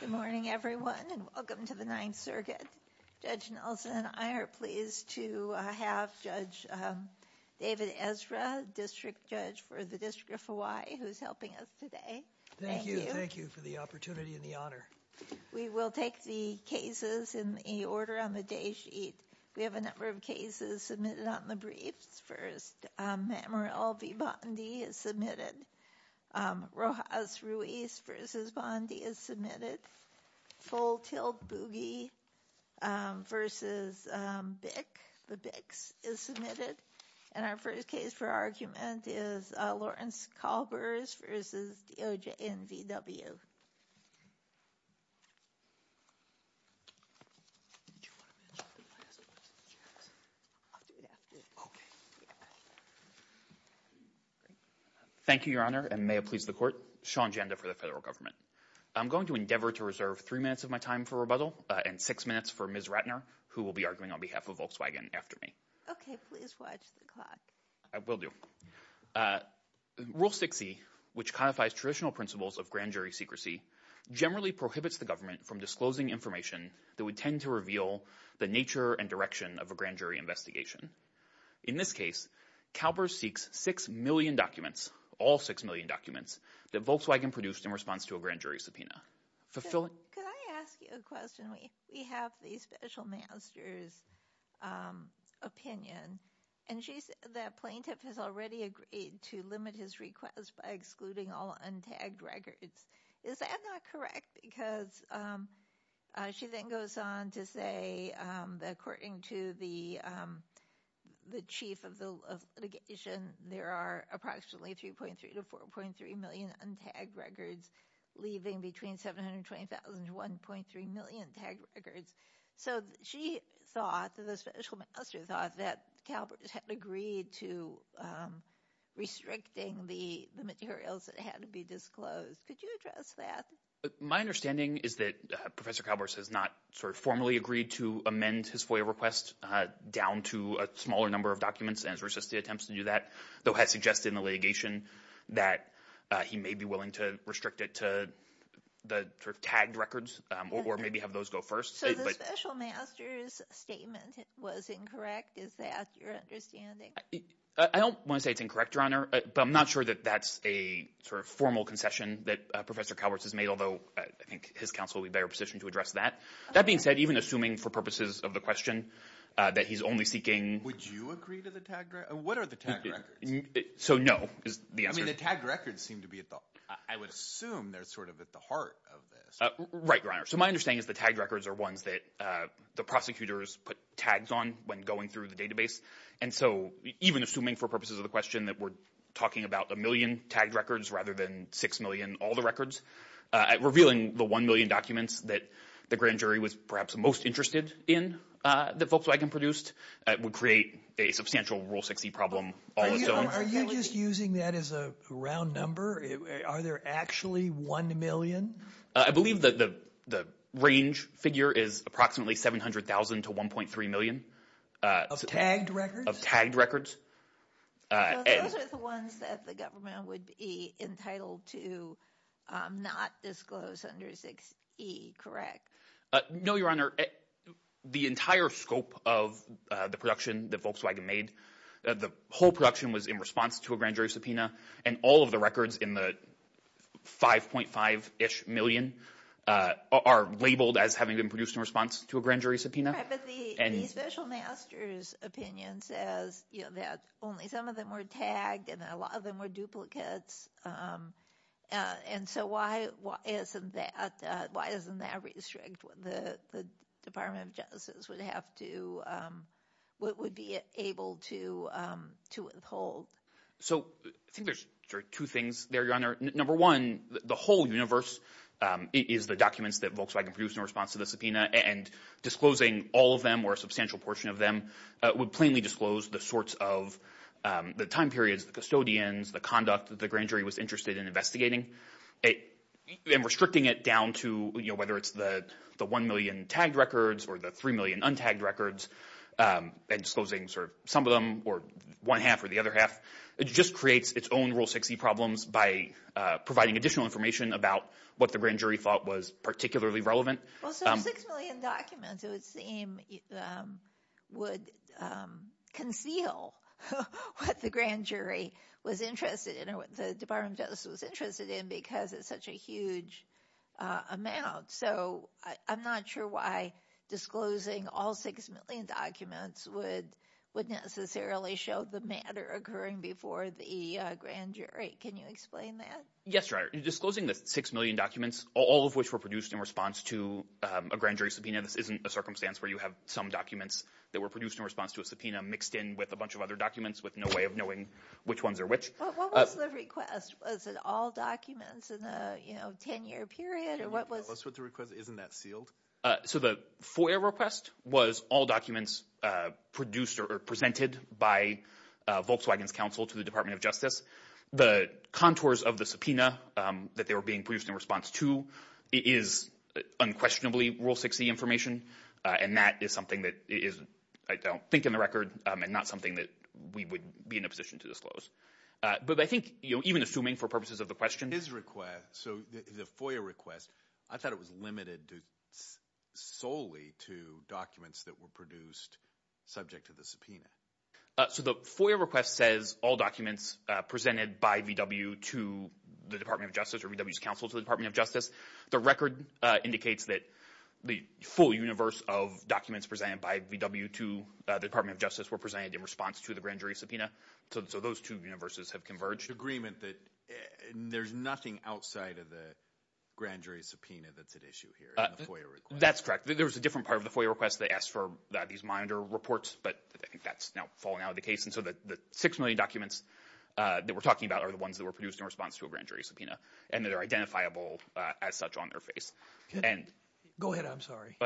Good morning everyone and welcome to the Ninth Circuit. Judge Nelson and I are pleased to have Judge David Ezra, District Judge for the District of Hawaii, who's helping us today. Thank you. Thank you for the opportunity and the honor. We will take the cases in the order on the day sheet. We have a number of cases submitted on the briefs. First, Manuel V. Bondi is submitted. Rojas Ruiz v. Bondi is submitted. Full Tilt Boogie v. Bick, the Bicks, is submitted. And our first case for argument is Lawrence Kalbers v. DOJ NVW. Thank you, Your Honor, and may it please the court. Sean Janda for the federal government. I'm going to endeavor to reserve three minutes of my time for rebuttal and six minutes for Ms. Ratner, who will be arguing on behalf of Volkswagen after me. Okay, please watch the clock. I will do. Rule 60, which codifies traditional principles of grand jury secrecy, generally prohibits the government from disclosing information that would tend to reveal the nature and direction of a grand jury investigation. In this case, Kalbers seeks six million documents, all six million documents, that Volkswagen produced in response to a grand jury subpoena. Could I ask you a question? We have the special master's opinion, and the plaintiff has already agreed to limit his request by excluding all untagged records. Is that not correct? Because she then goes on to say that according to the chief of litigation, there are approximately 3.3 to 4.3 million untagged records, leaving between 720,000 to 1.3 million tagged records. So she thought, the special master thought, that Kalbers had agreed to restricting the materials that had to be disclosed. Could you address that? My understanding is that Professor Kalbers has not formally agreed to amend his FOIA request down to a smaller number of documents and has resisted attempts to do that, though has suggested in the litigation that he may be willing to restrict it to the tagged records, or maybe have those go first. So the special master's statement was incorrect, is that your understanding? I don't want to say it's incorrect, Your Honor, but I'm not sure that that's a sort of formal concession that Professor Kalbers has made, although I think his counsel would be better positioned to address that. That being said, even assuming for purposes of the question that he's only seeking… Would you agree to the tagged records? What are the tagged records? So, no, is the answer. I mean, the tagged records seem to be at the… I would assume they're sort of at the heart of this. Right, Your Honor. So my understanding is the tagged records are ones that the prosecutors put tags on when going through the database, and so even assuming for purposes of the question that we're talking about a million tagged records rather than six million, all the records, revealing the one million documents that the grand jury was perhaps most interested in that Volkswagen produced would create a substantial Rule 6e problem all its own. Are you just using that as a round number? Are there actually one million? I believe that the range figure is approximately 700,000 to 1.3 million. Of tagged records? Of tagged records. Those are the ones that the government would be entitled to not disclose under 6e, correct? No, Your Honor. The entire scope of the production that Volkswagen made, the whole production was in response to a grand jury subpoena, and all of the records in the 5.5-ish million are labeled as having been produced in response to a grand jury subpoena. Right, but the special master's opinion says that only some of them were tagged and a lot of them were duplicates, and so why doesn't that restrict what the Department of Justice would be able to withhold? So I think there's two things there, Your Honor. Number one, the whole universe is the documents that Volkswagen produced in response to the subpoena, and disclosing all of them or a substantial portion of them would plainly disclose the sorts of the time periods, the custodians, the conduct that the grand jury was interested in investigating, and restricting it down to whether it's the one million tagged records or the three million untagged records and disclosing some of them or one half or the other half just creates its own Rule 6e problems by providing additional information about what the grand jury thought was particularly relevant. Well, so six million documents, it would seem, would conceal what the grand jury was interested in or what the Department of Justice was interested in because it's such a huge amount. So I'm not sure why disclosing all six million documents would necessarily show the matter occurring before the grand jury. Can you explain that? Yes, Your Honor. Disclosing the six million documents, all of which were produced in response to a grand jury subpoena, this isn't a circumstance where you have some documents that were produced in response to a subpoena mixed in with a bunch of other documents with no way of knowing which ones are which. What was the request? Was it all documents in a 10-year period? What was the request? Isn't that sealed? So the FOIA request was all documents produced or presented by Volkswagen's counsel to the Department of Justice. The contours of the subpoena that they were being produced in response to is unquestionably Rule 6e information, and that is something that I don't think in the record and not something that we would be in a position to disclose. But I think even assuming for purposes of the question— So the FOIA request, I thought it was limited solely to documents that were produced subject to the subpoena. So the FOIA request says all documents presented by VW to the Department of Justice or VW's counsel to the Department of Justice. The record indicates that the full universe of documents presented by VW to the Department of Justice were presented in response to the grand jury subpoena, so those two universes have converged. The agreement that there's nothing outside of the grand jury subpoena that's at issue here in the FOIA request. That's correct. There was a different part of the FOIA request that asked for these monitor reports, but I think that's now fallen out of the case. And so the six million documents that we're talking about are the ones that were produced in response to a grand jury subpoena and that are identifiable as such on their face. Go ahead. I'm sorry.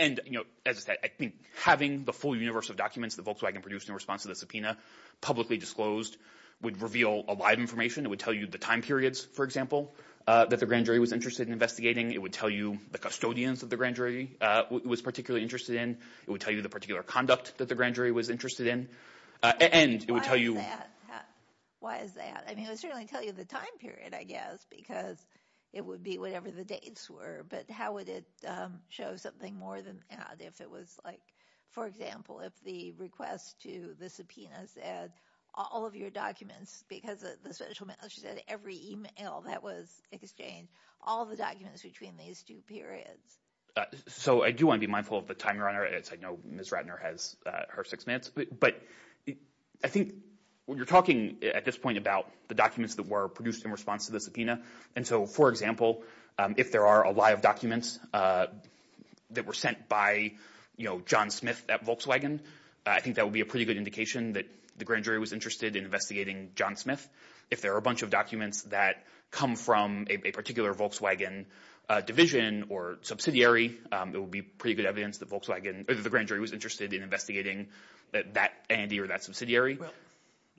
And as I said, I think having the full universe of documents that Volkswagen produced in response to the subpoena publicly disclosed would reveal a lot of information. It would tell you the time periods, for example, that the grand jury was interested in investigating. It would tell you the custodians that the grand jury was particularly interested in. It would tell you the particular conduct that the grand jury was interested in. Why is that? I mean, it would certainly tell you the time period, I guess, because it would be whatever the dates were, but how would it show something more than that if it was like, for example, if the request to the subpoenas had all of your documents because of the special mail. She said every email that was exchanged, all the documents between these two periods. So I do want to be mindful of the timer on her. I know Ms. Ratner has her six minutes. But I think when you're talking at this point about the documents that were produced in response to the subpoena. And so, for example, if there are a lot of documents that were sent by, you know, John Smith at Volkswagen, I think that would be a pretty good indication that the grand jury was interested in investigating John Smith. If there are a bunch of documents that come from a particular Volkswagen division or subsidiary, it would be pretty good evidence that Volkswagen or the grand jury was interested in investigating that entity or that subsidiary.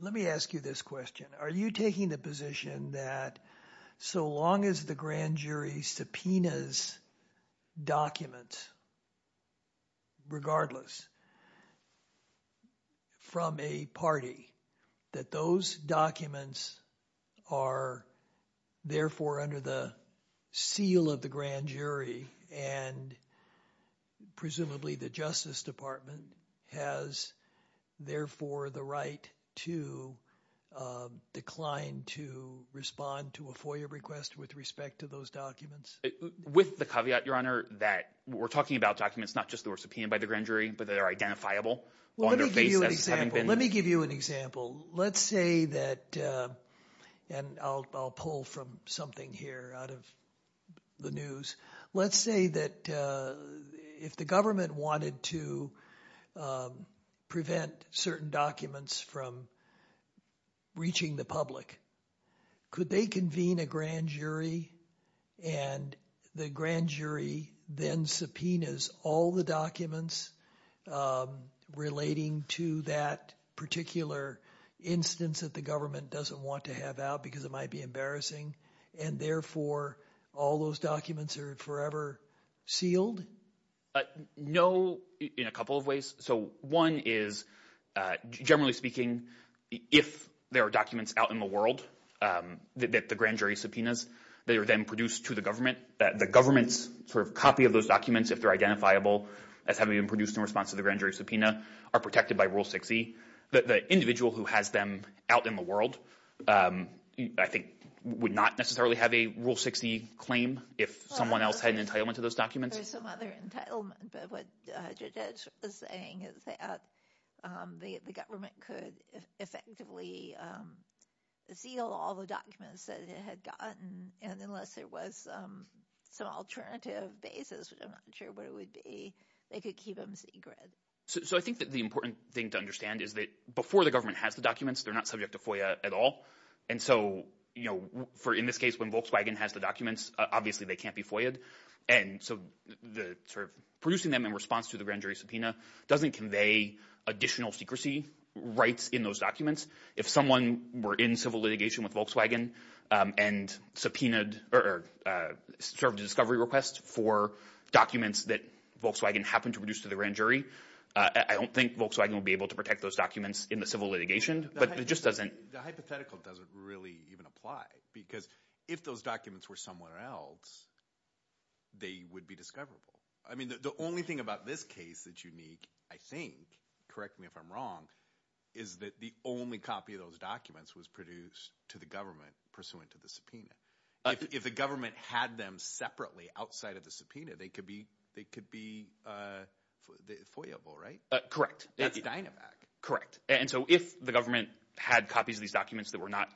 Let me ask you this question. Are you taking the position that so long as the grand jury subpoenas documents regardless from a party, that those documents are therefore under the seal of the grand jury and presumably the Justice Department has, therefore, the right to decline to respond to a FOIA request with respect to those documents? With the caveat, Your Honor, that we're talking about documents not just that were subpoenaed by the grand jury, but that are identifiable on their face as having been. Let me give you an example. Let's say that and I'll pull from something here out of the news. Let's say that if the government wanted to prevent certain documents from reaching the public, could they convene a grand jury and the grand jury then subpoenas all the documents relating to that particular instance that the government doesn't want to have out because it might be embarrassing and therefore all those documents are forever sealed? No, in a couple of ways. So one is, generally speaking, if there are documents out in the world that the grand jury subpoenas, they are then produced to the government. The government's sort of copy of those documents, if they're identifiable as having been produced in response to the grand jury subpoena, are protected by Rule 6e. The individual who has them out in the world, I think, would not necessarily have a Rule 6e claim if someone else had an entitlement to those documents. There's some other entitlement, but what Judge Edge was saying is that the government could effectively seal all the documents that it had gotten, and unless there was some alternative basis, which I'm not sure what it would be, they could keep them secret. So I think that the important thing to understand is that before the government has the documents, they're not subject to FOIA at all, and so in this case, when Volkswagen has the documents, obviously they can't be FOIAed, and so producing them in response to the grand jury subpoena doesn't convey additional secrecy rights in those documents. If someone were in civil litigation with Volkswagen and subpoenaed or served a discovery request for documents that Volkswagen happened to produce to the grand jury, I don't think Volkswagen would be able to protect those documents in the civil litigation, but it just doesn't. The hypothetical doesn't really even apply because if those documents were somewhere else, they would be discoverable. I mean, the only thing about this case that's unique, I think, correct me if I'm wrong, is that the only copy of those documents was produced to the government pursuant to the subpoena. If the government had them separately outside of the subpoena, they could be FOIAable, right? Correct. That's Dynavac. Correct. And so if the government had copies of these documents that were not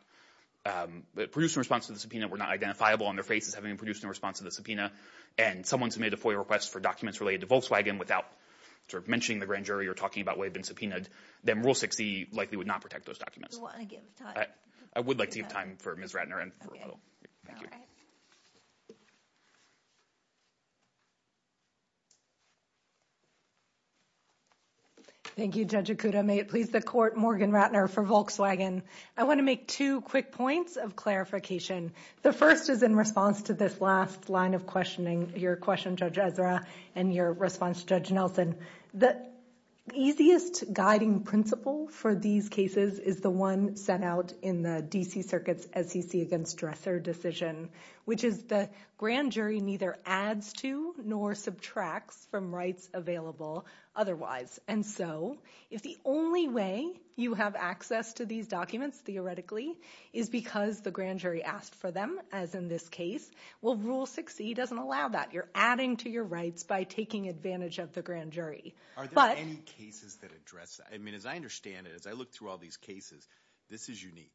produced in response to the subpoena, were not identifiable on their faces having been produced in response to the subpoena, and someone submitted a FOIA request for documents related to Volkswagen without sort of mentioning the grand jury or talking about what had been subpoenaed, then Rule 6e likely would not protect those documents. Do you want to give time? I would like to give time for Ms. Ratner and for a rebuttal. Thank you, Judge Okuda. May it please the Court, Morgan Ratner for Volkswagen. I want to make two quick points of clarification. The first is in response to this last line of questioning, your question, Judge Ezra, and your response, Judge Nelson. The easiest guiding principle for these cases is the one set out in the D.C. Circuit's SEC against Dresser decision, which is the grand jury neither adds to nor subtracts from rights available otherwise. And so if the only way you have access to these documents, theoretically, is because the grand jury asked for them, as in this case, well, Rule 6e doesn't allow that. You're adding to your rights by taking advantage of the grand jury. Are there any cases that address that? I mean, as I understand it, as I look through all these cases, this is unique.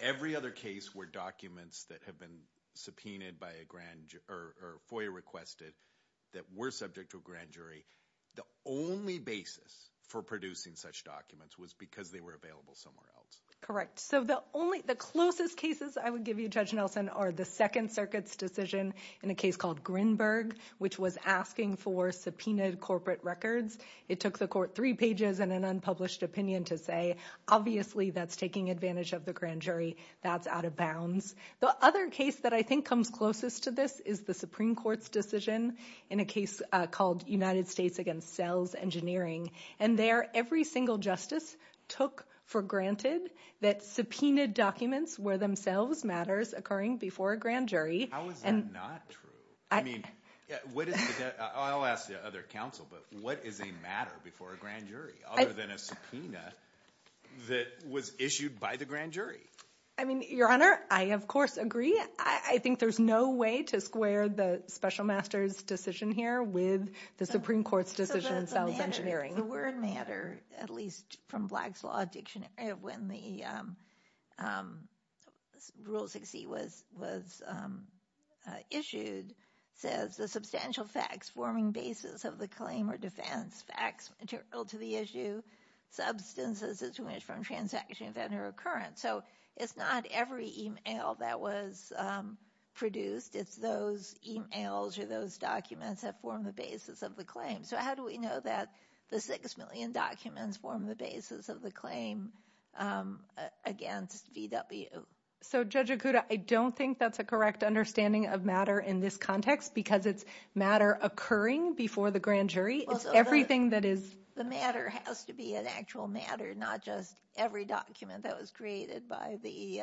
Every other case where documents that have been subpoenaed by a grand jury or FOIA requested that were subject to a grand jury, the only basis for producing such documents was because they were available somewhere else. Correct. So the closest cases I would give you, Judge Nelson, are the Second Circuit's decision in a case called Grinberg, which was asking for subpoenaed corporate records. It took the court three pages and an unpublished opinion to say, obviously that's taking advantage of the grand jury. That's out of bounds. The other case that I think comes closest to this is the Supreme Court's decision in a case called United States against Sells Engineering. And there, every single justice took for granted that subpoenaed documents were themselves matters occurring before a grand jury. How is that not true? I mean, I'll ask the other counsel, but what is a matter before a grand jury other than a subpoena that was issued by the grand jury? I mean, Your Honor, I of course agree. I think there's no way to square the special master's decision here with the Supreme Court's decision in Sells Engineering. The word matter, at least from Black's Law Dictionary, when the Rule 6e was issued, says, the substantial facts forming basis of the claim or defense, facts material to the issue, substances as to which from transactions that are recurrent. So it's not every e-mail that was produced. It's those e-mails or those documents that form the basis of the claim. So how do we know that the 6 million documents form the basis of the claim against VW? So, Judge Okuda, I don't think that's a correct understanding of matter in this context because it's matter occurring before the grand jury. It's everything that is – The matter has to be an actual matter, not just every document that was created by the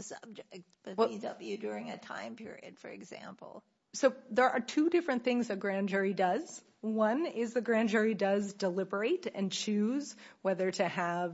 subject, the VW, during a time period, for example. So there are two different things a grand jury does. One is the grand jury does deliberate and choose whether to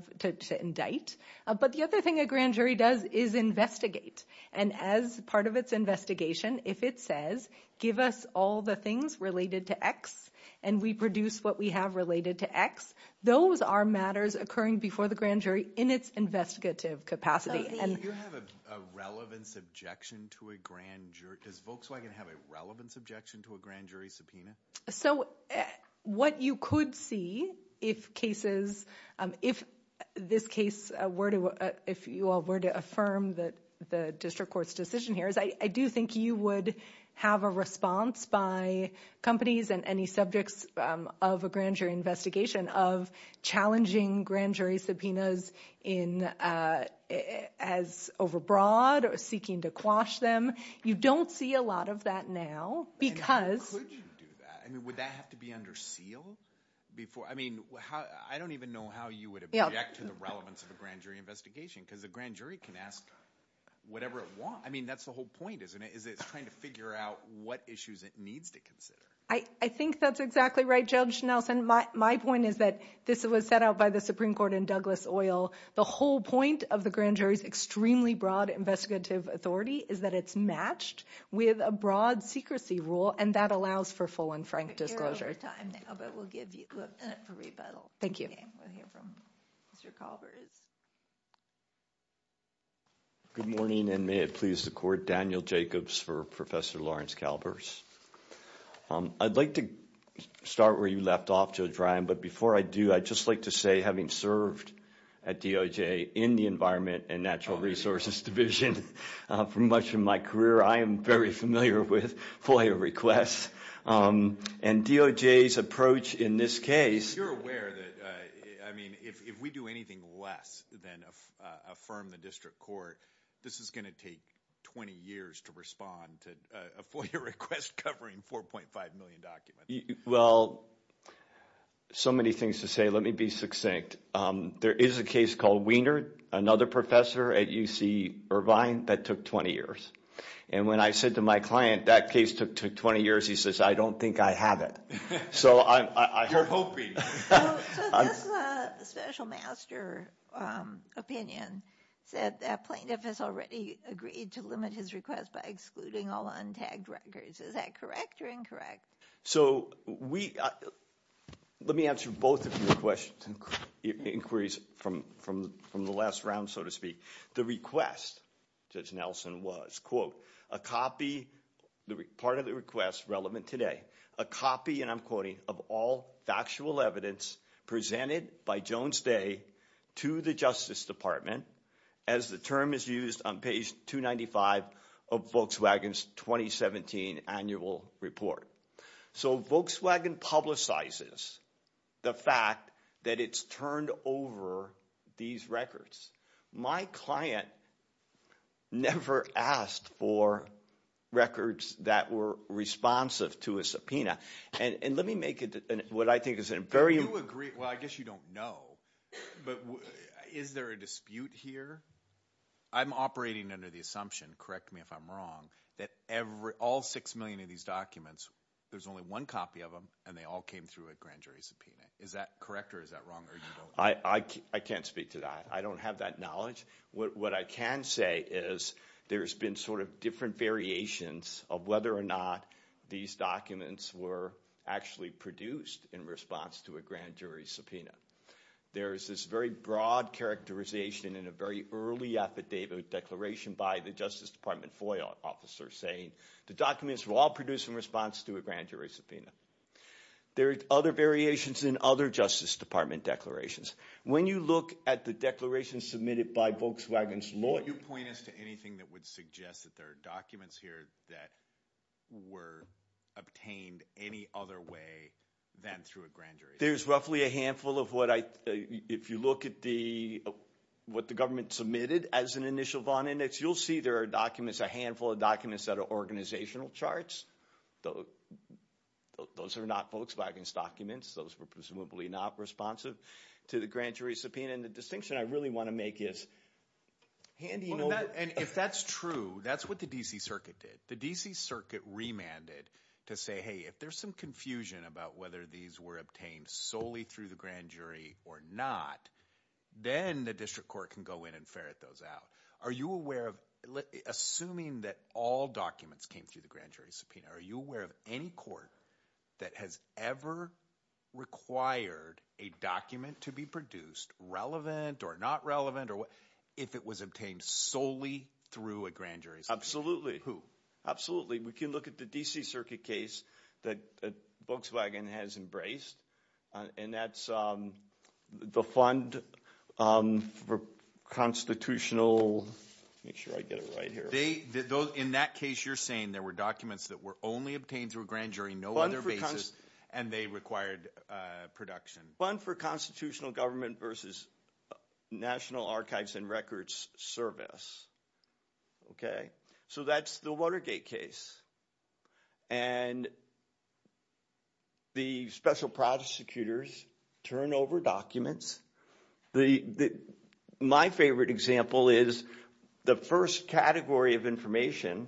indict. But the other thing a grand jury does is investigate. And as part of its investigation, if it says, give us all the things related to X and we produce what we have related to X, those are matters occurring before the grand jury in its investigative capacity. So if you have a relevance objection to a grand jury, does Volkswagen have a relevance objection to a grand jury subpoena? So what you could see if cases – if this case were to – if you were to affirm the district court's decision here is I do think you would have a response by companies and any subjects of a grand jury investigation of challenging grand jury subpoenas as overbroad or seeking to quash them. You don't see a lot of that now because – And how could you do that? I mean, would that have to be under seal before – I mean, I don't even know how you would object to the relevance of a grand jury investigation because a grand jury can ask whatever it wants. I mean, that's the whole point, isn't it, is it's trying to figure out what issues it needs to consider. I think that's exactly right, Judge Nelson. My point is that this was set out by the Supreme Court in Douglas Oil. The whole point of the grand jury's extremely broad investigative authority is that it's matched with a broad secrecy rule, and that allows for full and frank disclosure. We're out of time now, but we'll give you a minute for rebuttal. Thank you. We'll hear from Mr. Calvers. Good morning, and may it please the Court. Daniel Jacobs for Professor Lawrence Calvers. I'd like to start where you left off, Judge Ryan, but before I do I'd just like to say having served at DOJ in the Environment and Natural Resources Division for much of my career, I am very familiar with FOIA requests, and DOJ's approach in this case. You're aware that, I mean, if we do anything less than affirm the district court, this is going to take 20 years to respond to a FOIA request covering 4.5 million documents. Well, so many things to say. Let me be succinct. There is a case called Wiener, another professor at UC Irvine, that took 20 years. And when I said to my client that case took 20 years, he says, I don't think I have it. You're hoping. So this special master opinion said that plaintiff has already agreed to limit his request by excluding all untagged records. Is that correct or incorrect? So let me answer both of your questions and inquiries from the last round, so to speak. The request, Judge Nelson was, quote, a copy, part of the request relevant today, a copy, and I'm quoting, of all factual evidence presented by Jones Day to the Justice Department as the term is used on page 295 of Volkswagen's 2017 annual report. So Volkswagen publicizes the fact that it's turned over these records. My client never asked for records that were responsive to a subpoena. And let me make what I think is a very— Well, I guess you don't know, but is there a dispute here? I'm operating under the assumption, correct me if I'm wrong, that all six million of these documents, there's only one copy of them, and they all came through a grand jury subpoena. Is that correct or is that wrong? I can't speak to that. I don't have that knowledge. What I can say is there's been sort of different variations of whether or not these documents were actually produced in response to a grand jury subpoena. There is this very broad characterization in a very early affidavit declaration by the Justice Department FOIA officer saying the documents were all produced in response to a grand jury subpoena. There are other variations in other Justice Department declarations. When you look at the declaration submitted by Volkswagen's lawyer— Can you point us to anything that would suggest that there are documents here that were obtained any other way than through a grand jury subpoena? There's roughly a handful of what I— if you look at what the government submitted as an initial bond index, you'll see there are documents, a handful of documents that are organizational charts. Those are not Volkswagen's documents. Those were presumably not responsive to the grand jury subpoena. The distinction I really want to make is— If that's true, that's what the D.C. Circuit did. The D.C. Circuit remanded to say, hey, if there's some confusion about whether these were obtained solely through the grand jury or not, then the district court can go in and ferret those out. Are you aware of—assuming that all documents came through the grand jury subpoena, are you aware of any court that has ever required a document to be produced, relevant or not relevant, if it was obtained solely through a grand jury subpoena? Absolutely. Who? Absolutely. We can look at the D.C. Circuit case that Volkswagen has embraced, and that's the Fund for Constitutional— make sure I get it right here. In that case, you're saying there were documents that were only obtained through a grand jury, no other basis, and they required production. Fund for Constitutional Government versus National Archives and Records Service. So that's the Watergate case. And the special prosecutors turn over documents. My favorite example is the first category of information—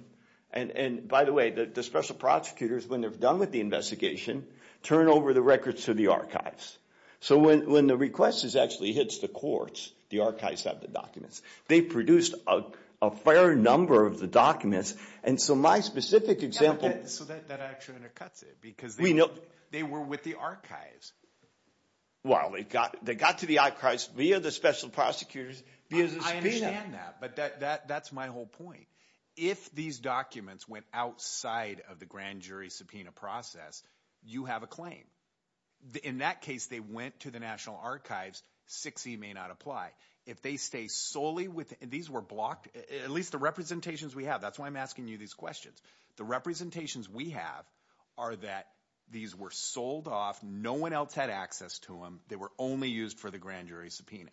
and by the way, the special prosecutors, when they're done with the investigation, turn over the records to the archives. So when the request actually hits the courts, the archives have the documents. They produced a fair number of the documents, and so my specific example— So that actually undercuts it, because they were with the archives. Well, they got to the archives via the special prosecutors, via the subpoena. I understand that, but that's my whole point. If these documents went outside of the grand jury subpoena process, you have a claim. In that case, they went to the National Archives. 6E may not apply. If they stay solely with—these were blocked, at least the representations we have. That's why I'm asking you these questions. The representations we have are that these were sold off. No one else had access to them. They were only used for the grand jury subpoena.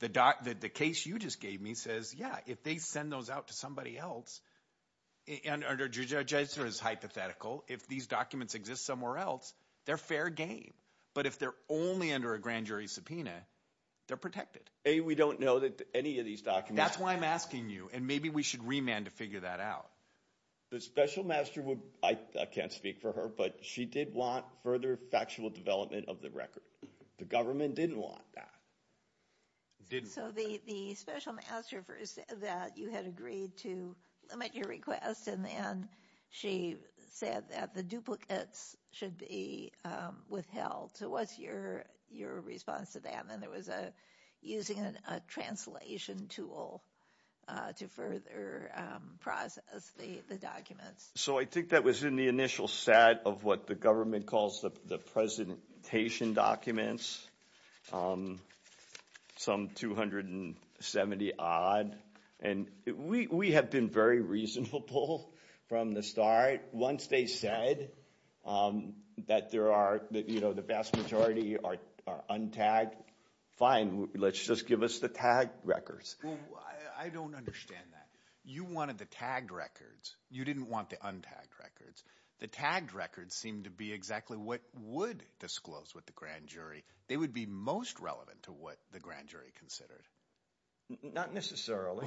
The case you just gave me says, yeah, if they send those out to somebody else, and under Judiciary's hypothetical, if these documents exist somewhere else, they're fair game. But if they're only under a grand jury subpoena, they're protected. A, we don't know that any of these documents— That's why I'm asking you, and maybe we should remand to figure that out. The special master would—I can't speak for her, but she did want further factual development of the record. The government didn't want that. So the special master said that you had agreed to limit your request, and then she said that the duplicates should be withheld. So what's your response to that? And then there was using a translation tool to further process the documents. So I think that was in the initial set of what the government calls the presentation documents, some 270-odd. And we have been very reasonable from the start. Once they said that there are—that the vast majority are untagged, fine. Let's just give us the tagged records. Well, I don't understand that. You wanted the tagged records. You didn't want the untagged records. The tagged records seem to be exactly what would disclose with the grand jury. They would be most relevant to what the grand jury considered. Not necessarily.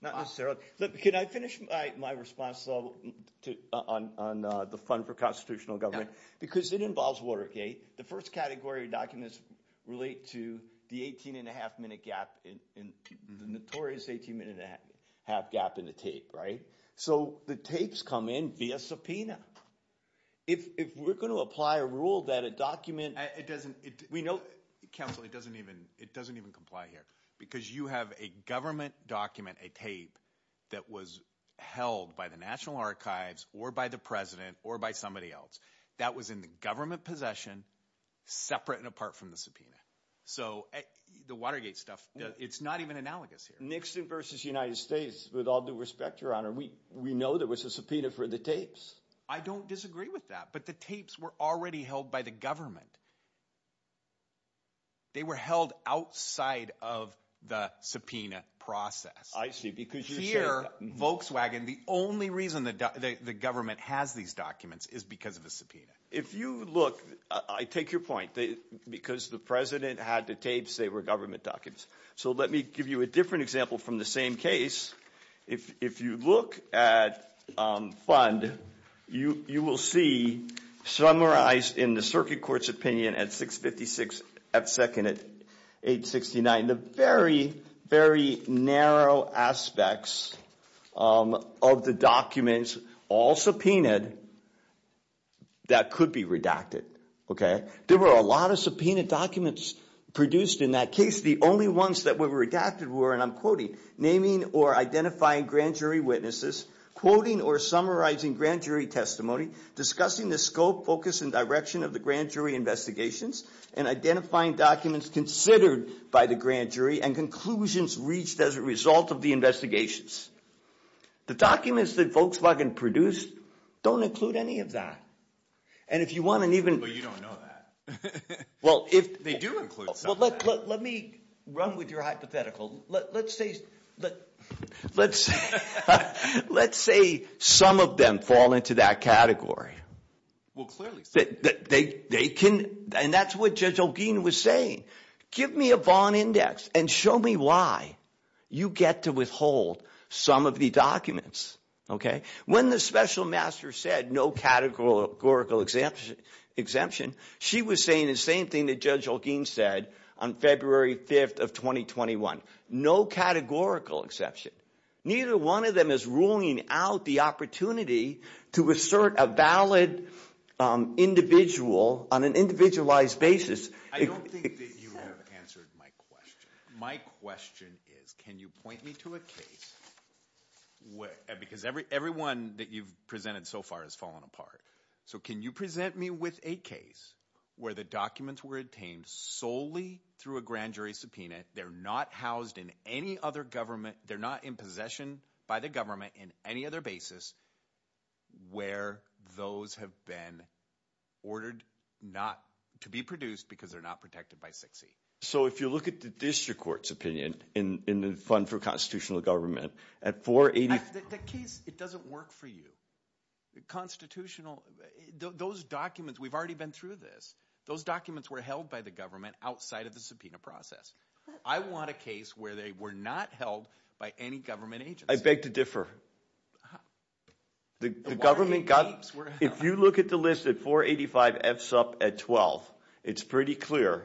Not necessarily. Can I finish my response on the Fund for Constitutional Government? Because it involves Watergate. The first category of documents relate to the 18-and-a-half-minute gap, the notorious 18-minute-and-a-half gap in the tape, right? So the tapes come in via subpoena. If we're going to apply a rule that a document— It doesn't—we know— Counsel, it doesn't even comply here. Because you have a government document, a tape, that was held by the National Archives or by the president or by somebody else. That was in the government possession separate and apart from the subpoena. So the Watergate stuff, it's not even analogous here. Nixon versus United States, with all due respect, Your Honor, we know there was a subpoena for the tapes. I don't disagree with that. But the tapes were already held by the government. They were held outside of the subpoena process. I see, because you're saying— Here, Volkswagen, the only reason the government has these documents is because of a subpoena. If you look—I take your point. Because the president had the tapes, they were government documents. So let me give you a different example from the same case. If you look at Fund, you will see, summarized in the circuit court's opinion at 6.56, at second at 8.69, the very, very narrow aspects of the documents, all subpoenaed, that could be redacted. There were a lot of subpoenaed documents produced in that case. The only ones that were redacted were, and I'm quoting, naming or identifying grand jury witnesses, quoting or summarizing grand jury testimony, discussing the scope, focus, and direction of the grand jury investigations, and identifying documents considered by the grand jury and conclusions reached as a result of the investigations. The documents that Volkswagen produced don't include any of that. And if you want to even— But you don't know that. They do include subpoenas. Let me run with your hypothetical. Let's say some of them fall into that category. Well, clearly. And that's what Judge Olguin was saying. Give me a Vaughan Index and show me why you get to withhold some of the documents. When the special master said no categorical exemption, she was saying the same thing that Judge Olguin said on February 5th of 2021. No categorical exception. Neither one of them is ruling out the opportunity to assert a valid individual on an individualized basis. I don't think that you have answered my question. My question is can you point me to a case where— because everyone that you've presented so far has fallen apart. So can you present me with a case where the documents were obtained solely through a grand jury subpoena. They're not housed in any other government. They're not in possession by the government in any other basis where those have been ordered not to be produced because they're not protected by 6E. So if you look at the district court's opinion in the Fund for Constitutional Government, at 480— The case, it doesn't work for you. Constitutional, those documents, we've already been through this. Those documents were held by the government outside of the subpoena process. I want a case where they were not held by any government agency. I beg to differ. The government got— If you look at the list at 485 FSUP at 12, it's pretty clear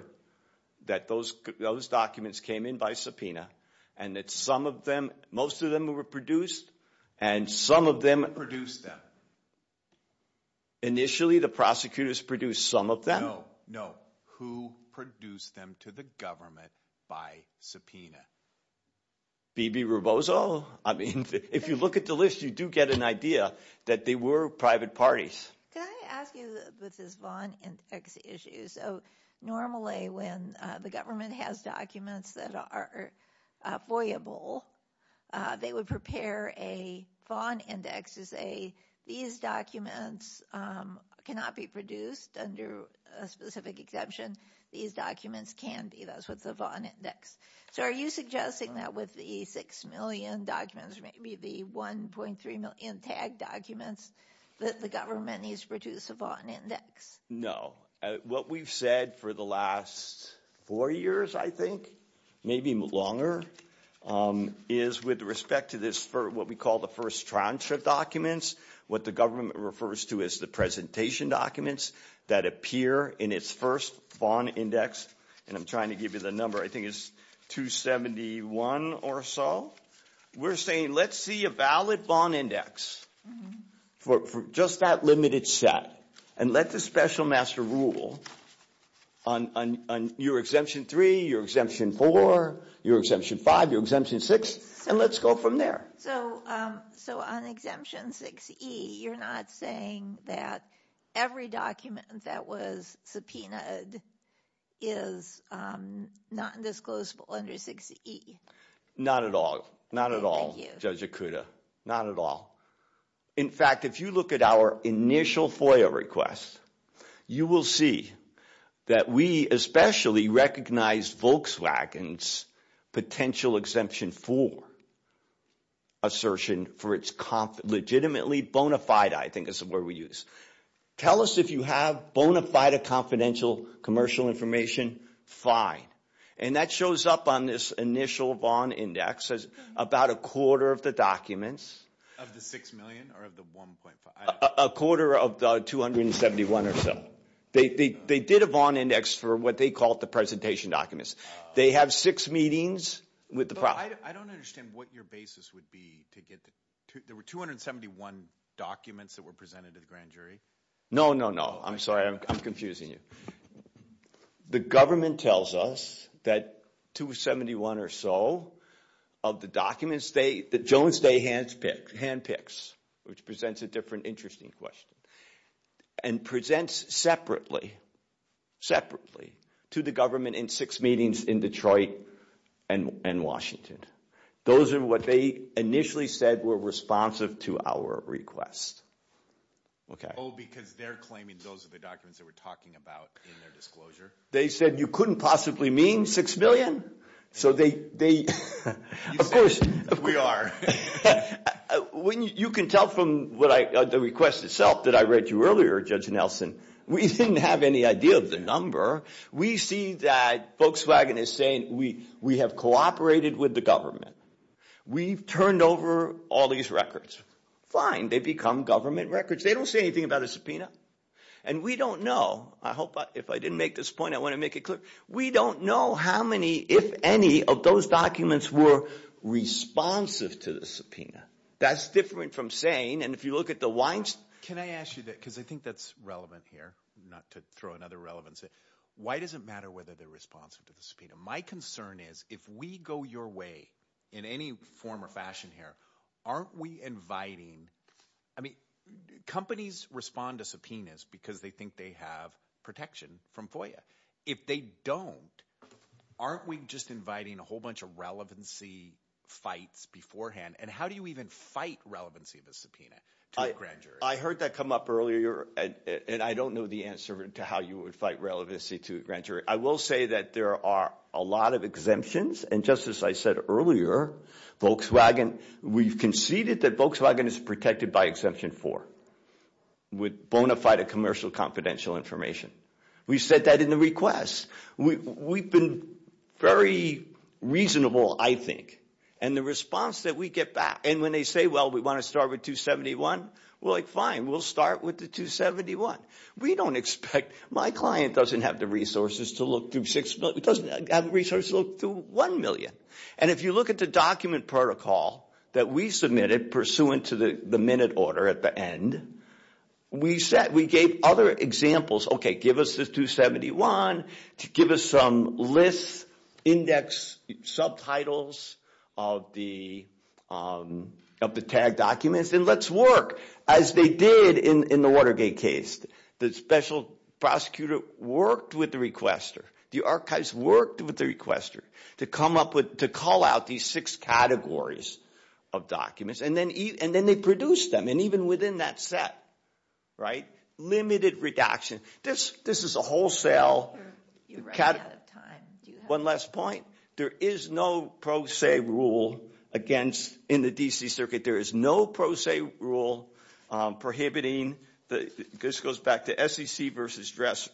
that those documents came in by subpoena and that some of them, most of them were produced, and some of them— Who produced them? Initially, the prosecutors produced some of them? No, no. Who produced them to the government by subpoena? B.B. Rubozo? I mean, if you look at the list, you do get an idea that they were private parties. Can I ask you with this Vaughan Index issue? So normally when the government has documents that are foyable, they would prepare a Vaughan Index to say, these documents cannot be produced under a specific exemption. These documents can be. That's what the Vaughan Index. So are you suggesting that with the 6 million documents, maybe the 1.3 million tagged documents, that the government needs to produce a Vaughan Index? No. What we've said for the last four years, I think, maybe longer, is with respect to this, what we call the first transcript documents, what the government refers to as the presentation documents that appear in its first Vaughan Index, and I'm trying to give you the number, I think it's 271 or so, we're saying let's see a valid Vaughan Index for just that limited set and let the special master rule on your Exemption 3, your Exemption 4, your Exemption 5, your Exemption 6, and let's go from there. So on Exemption 6E, you're not saying that every document that was subpoenaed is not indisclosable under 6E? Not at all. Not at all, Judge Okuda. Not at all. In fact, if you look at our initial FOIA requests, you will see that we especially recognize Volkswagen's potential Exemption 4 assertion for its legitimately bona fide, I think is the word we use. Tell us if you have bona fide or confidential commercial information. Fine. And that shows up on this initial Vaughan Index as about a quarter of the documents. Of the 6 million or of the 1.5? A quarter of the 271 or so. They did a Vaughan Index for what they call the presentation documents. They have six meetings with the process. I don't understand what your basis would be to get the 271 documents that were presented to the grand jury. No, no, no. I'm sorry, I'm confusing you. The government tells us that 271 or so of the documents, the Jones Day handpicks, which presents a different interesting question, and presents separately to the government in six meetings in Detroit and Washington. Those are what they initially said were responsive to our request. Oh, because they're claiming those are the documents that we're talking about in their disclosure? They said you couldn't possibly mean 6 million? So they, of course, you can tell from the request itself that I read to you earlier, Judge Nelson, we didn't have any idea of the number. We see that Volkswagen is saying we have cooperated with the government. We've turned over all these records. Fine. They become government records. They don't say anything about a subpoena. And we don't know. I hope if I didn't make this point, I want to make it clear. We don't know how many, if any, of those documents were responsive to the subpoena. That's different from saying, and if you look at the Weinstein. Can I ask you that, because I think that's relevant here, not to throw another relevance in. Why does it matter whether they're responsive to the subpoena? My concern is if we go your way in any form or fashion here, aren't we inviting, I mean, companies respond to subpoenas because they think they have protection from FOIA. If they don't, aren't we just inviting a whole bunch of relevancy fights beforehand? And how do you even fight relevancy of a subpoena to a grand jury? I heard that come up earlier, and I don't know the answer to how you would fight relevancy to a grand jury. I will say that there are a lot of exemptions. And just as I said earlier, Volkswagen, we've conceded that Volkswagen is protected by Exemption 4 with bona fide commercial confidential information. We've said that in the request. We've been very reasonable, I think, and the response that we get back, and when they say, well, we want to start with 271, we're like, fine, we'll start with the 271. We don't expect, my client doesn't have the resources to look through six, doesn't have the resources to look through one million. And if you look at the document protocol that we submitted pursuant to the minute order at the end, we gave other examples, okay, give us this 271, give us some lists, index, subtitles of the tagged documents, and let's work as they did in the Watergate case. The special prosecutor worked with the requester. The archives worked with the requester to come up with, to call out these six categories of documents, and then they produced them. And even within that set, right, limited redaction. This is a wholesale. You're running out of time. One last point. There is no pro se rule in the D.C. Circuit. There is no pro se rule prohibiting, this goes back to SEC versus Dresser,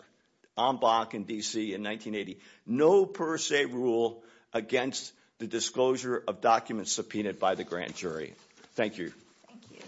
OMBAC in D.C. in 1980, no pro se rule against the disclosure of documents subpoenaed by the grant jury. Thank you. Thank you.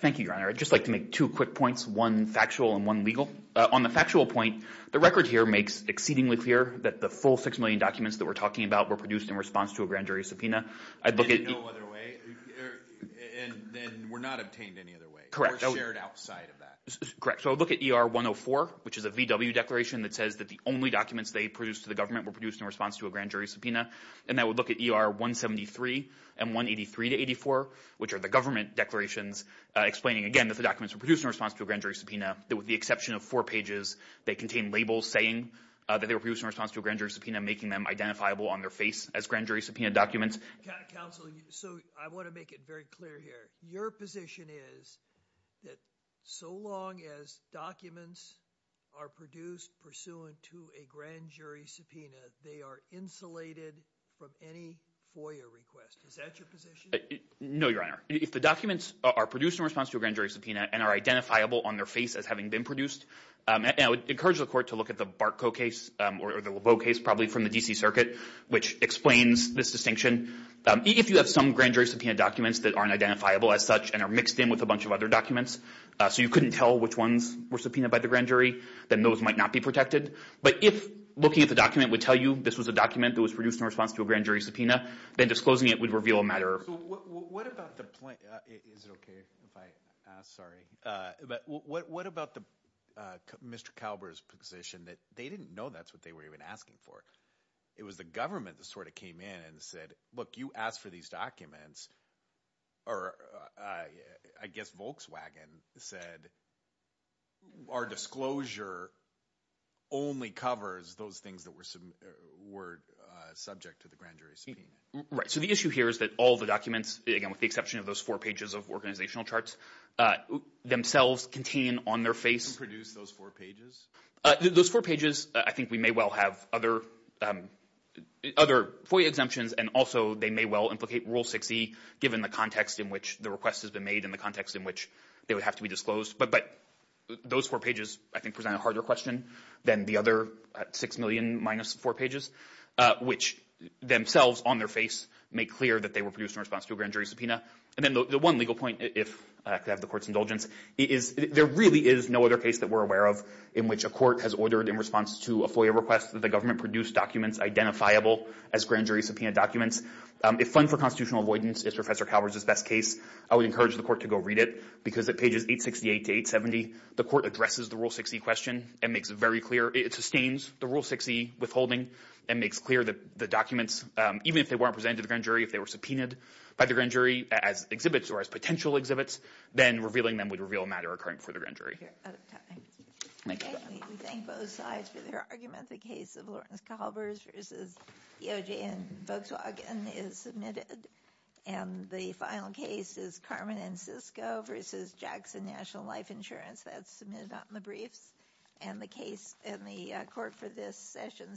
Thank you, Your Honor. I'd just like to make two quick points, one factual and one legal. On the factual point, the record here makes exceedingly clear that the full six million documents that we're talking about were produced in response to a grand jury subpoena. In no other way? And were not obtained any other way? Correct. Or shared outside of that? Correct. So look at ER 104, which is a VW declaration that says that the only documents they produced to the government were produced in response to a grand jury subpoena. And then we'll look at ER 173 and 183 to 84, which are the government declarations explaining, again, that the documents were produced in response to a grand jury subpoena, with the exception of four pages that contain labels saying that they were produced in response to a grand jury subpoena, making them identifiable on their face as grand jury subpoena documents. Counsel, so I want to make it very clear here. Your position is that so long as documents are produced pursuant to a grand jury subpoena, they are insulated from any FOIA request. Is that your position? No, Your Honor. If the documents are produced in response to a grand jury subpoena and are identifiable on their face as having been produced, I would encourage the court to look at the Barko case or the Lebeau case, probably from the D.C. Circuit, which explains this distinction. If you have some grand jury subpoena documents that aren't identifiable as such and are mixed in with a bunch of other documents, so you couldn't tell which ones were subpoenaed by the grand jury, then those might not be protected. But if looking at the document would tell you this was a document that was produced in response to a grand jury subpoena, then disclosing it would reveal a matter. Is it okay if I ask? What about Mr. Kalber's position that they didn't know that's what they were even asking for? It was the government that sort of came in and said, look, you asked for these documents, or I guess Volkswagen said, our disclosure only covers those things that were subject to the grand jury subpoena. Right. So the issue here is that all the documents, again, with the exception of those four pages of organizational charts, themselves contain on their face. Who produced those four pages? Those four pages, I think we may well have other FOIA exemptions, and also they may well implicate Rule 6e, given the context in which the request has been made and the context in which they would have to be disclosed. But those four pages, I think, present a harder question than the other 6 million minus four pages, which themselves on their face make clear that they were produced in response to a grand jury subpoena. And then the one legal point, if I could have the court's indulgence, is there really is no other case that we're aware of in which a court has ordered in response to a FOIA request that the government produced documents identifiable as grand jury subpoena documents. If fund for constitutional avoidance is Professor Kalber's best case, I would encourage the court to go read it because at pages 868 to 870, the court addresses the Rule 6e question and makes it very clear. It sustains the Rule 6e withholding and makes clear that the documents, even if they weren't presented to the grand jury, if they were subpoenaed by the grand jury as exhibits or as potential exhibits, then revealing them would reveal a matter occurring before the grand jury. Thank you. We thank both sides for their argument. The case of Lawrence Kalber's versus EOJ and Volkswagen is submitted. And the final case is Carmen and Cisco versus Jackson National Life Insurance. That's submitted on the briefs. And the court for this session stands adjourned.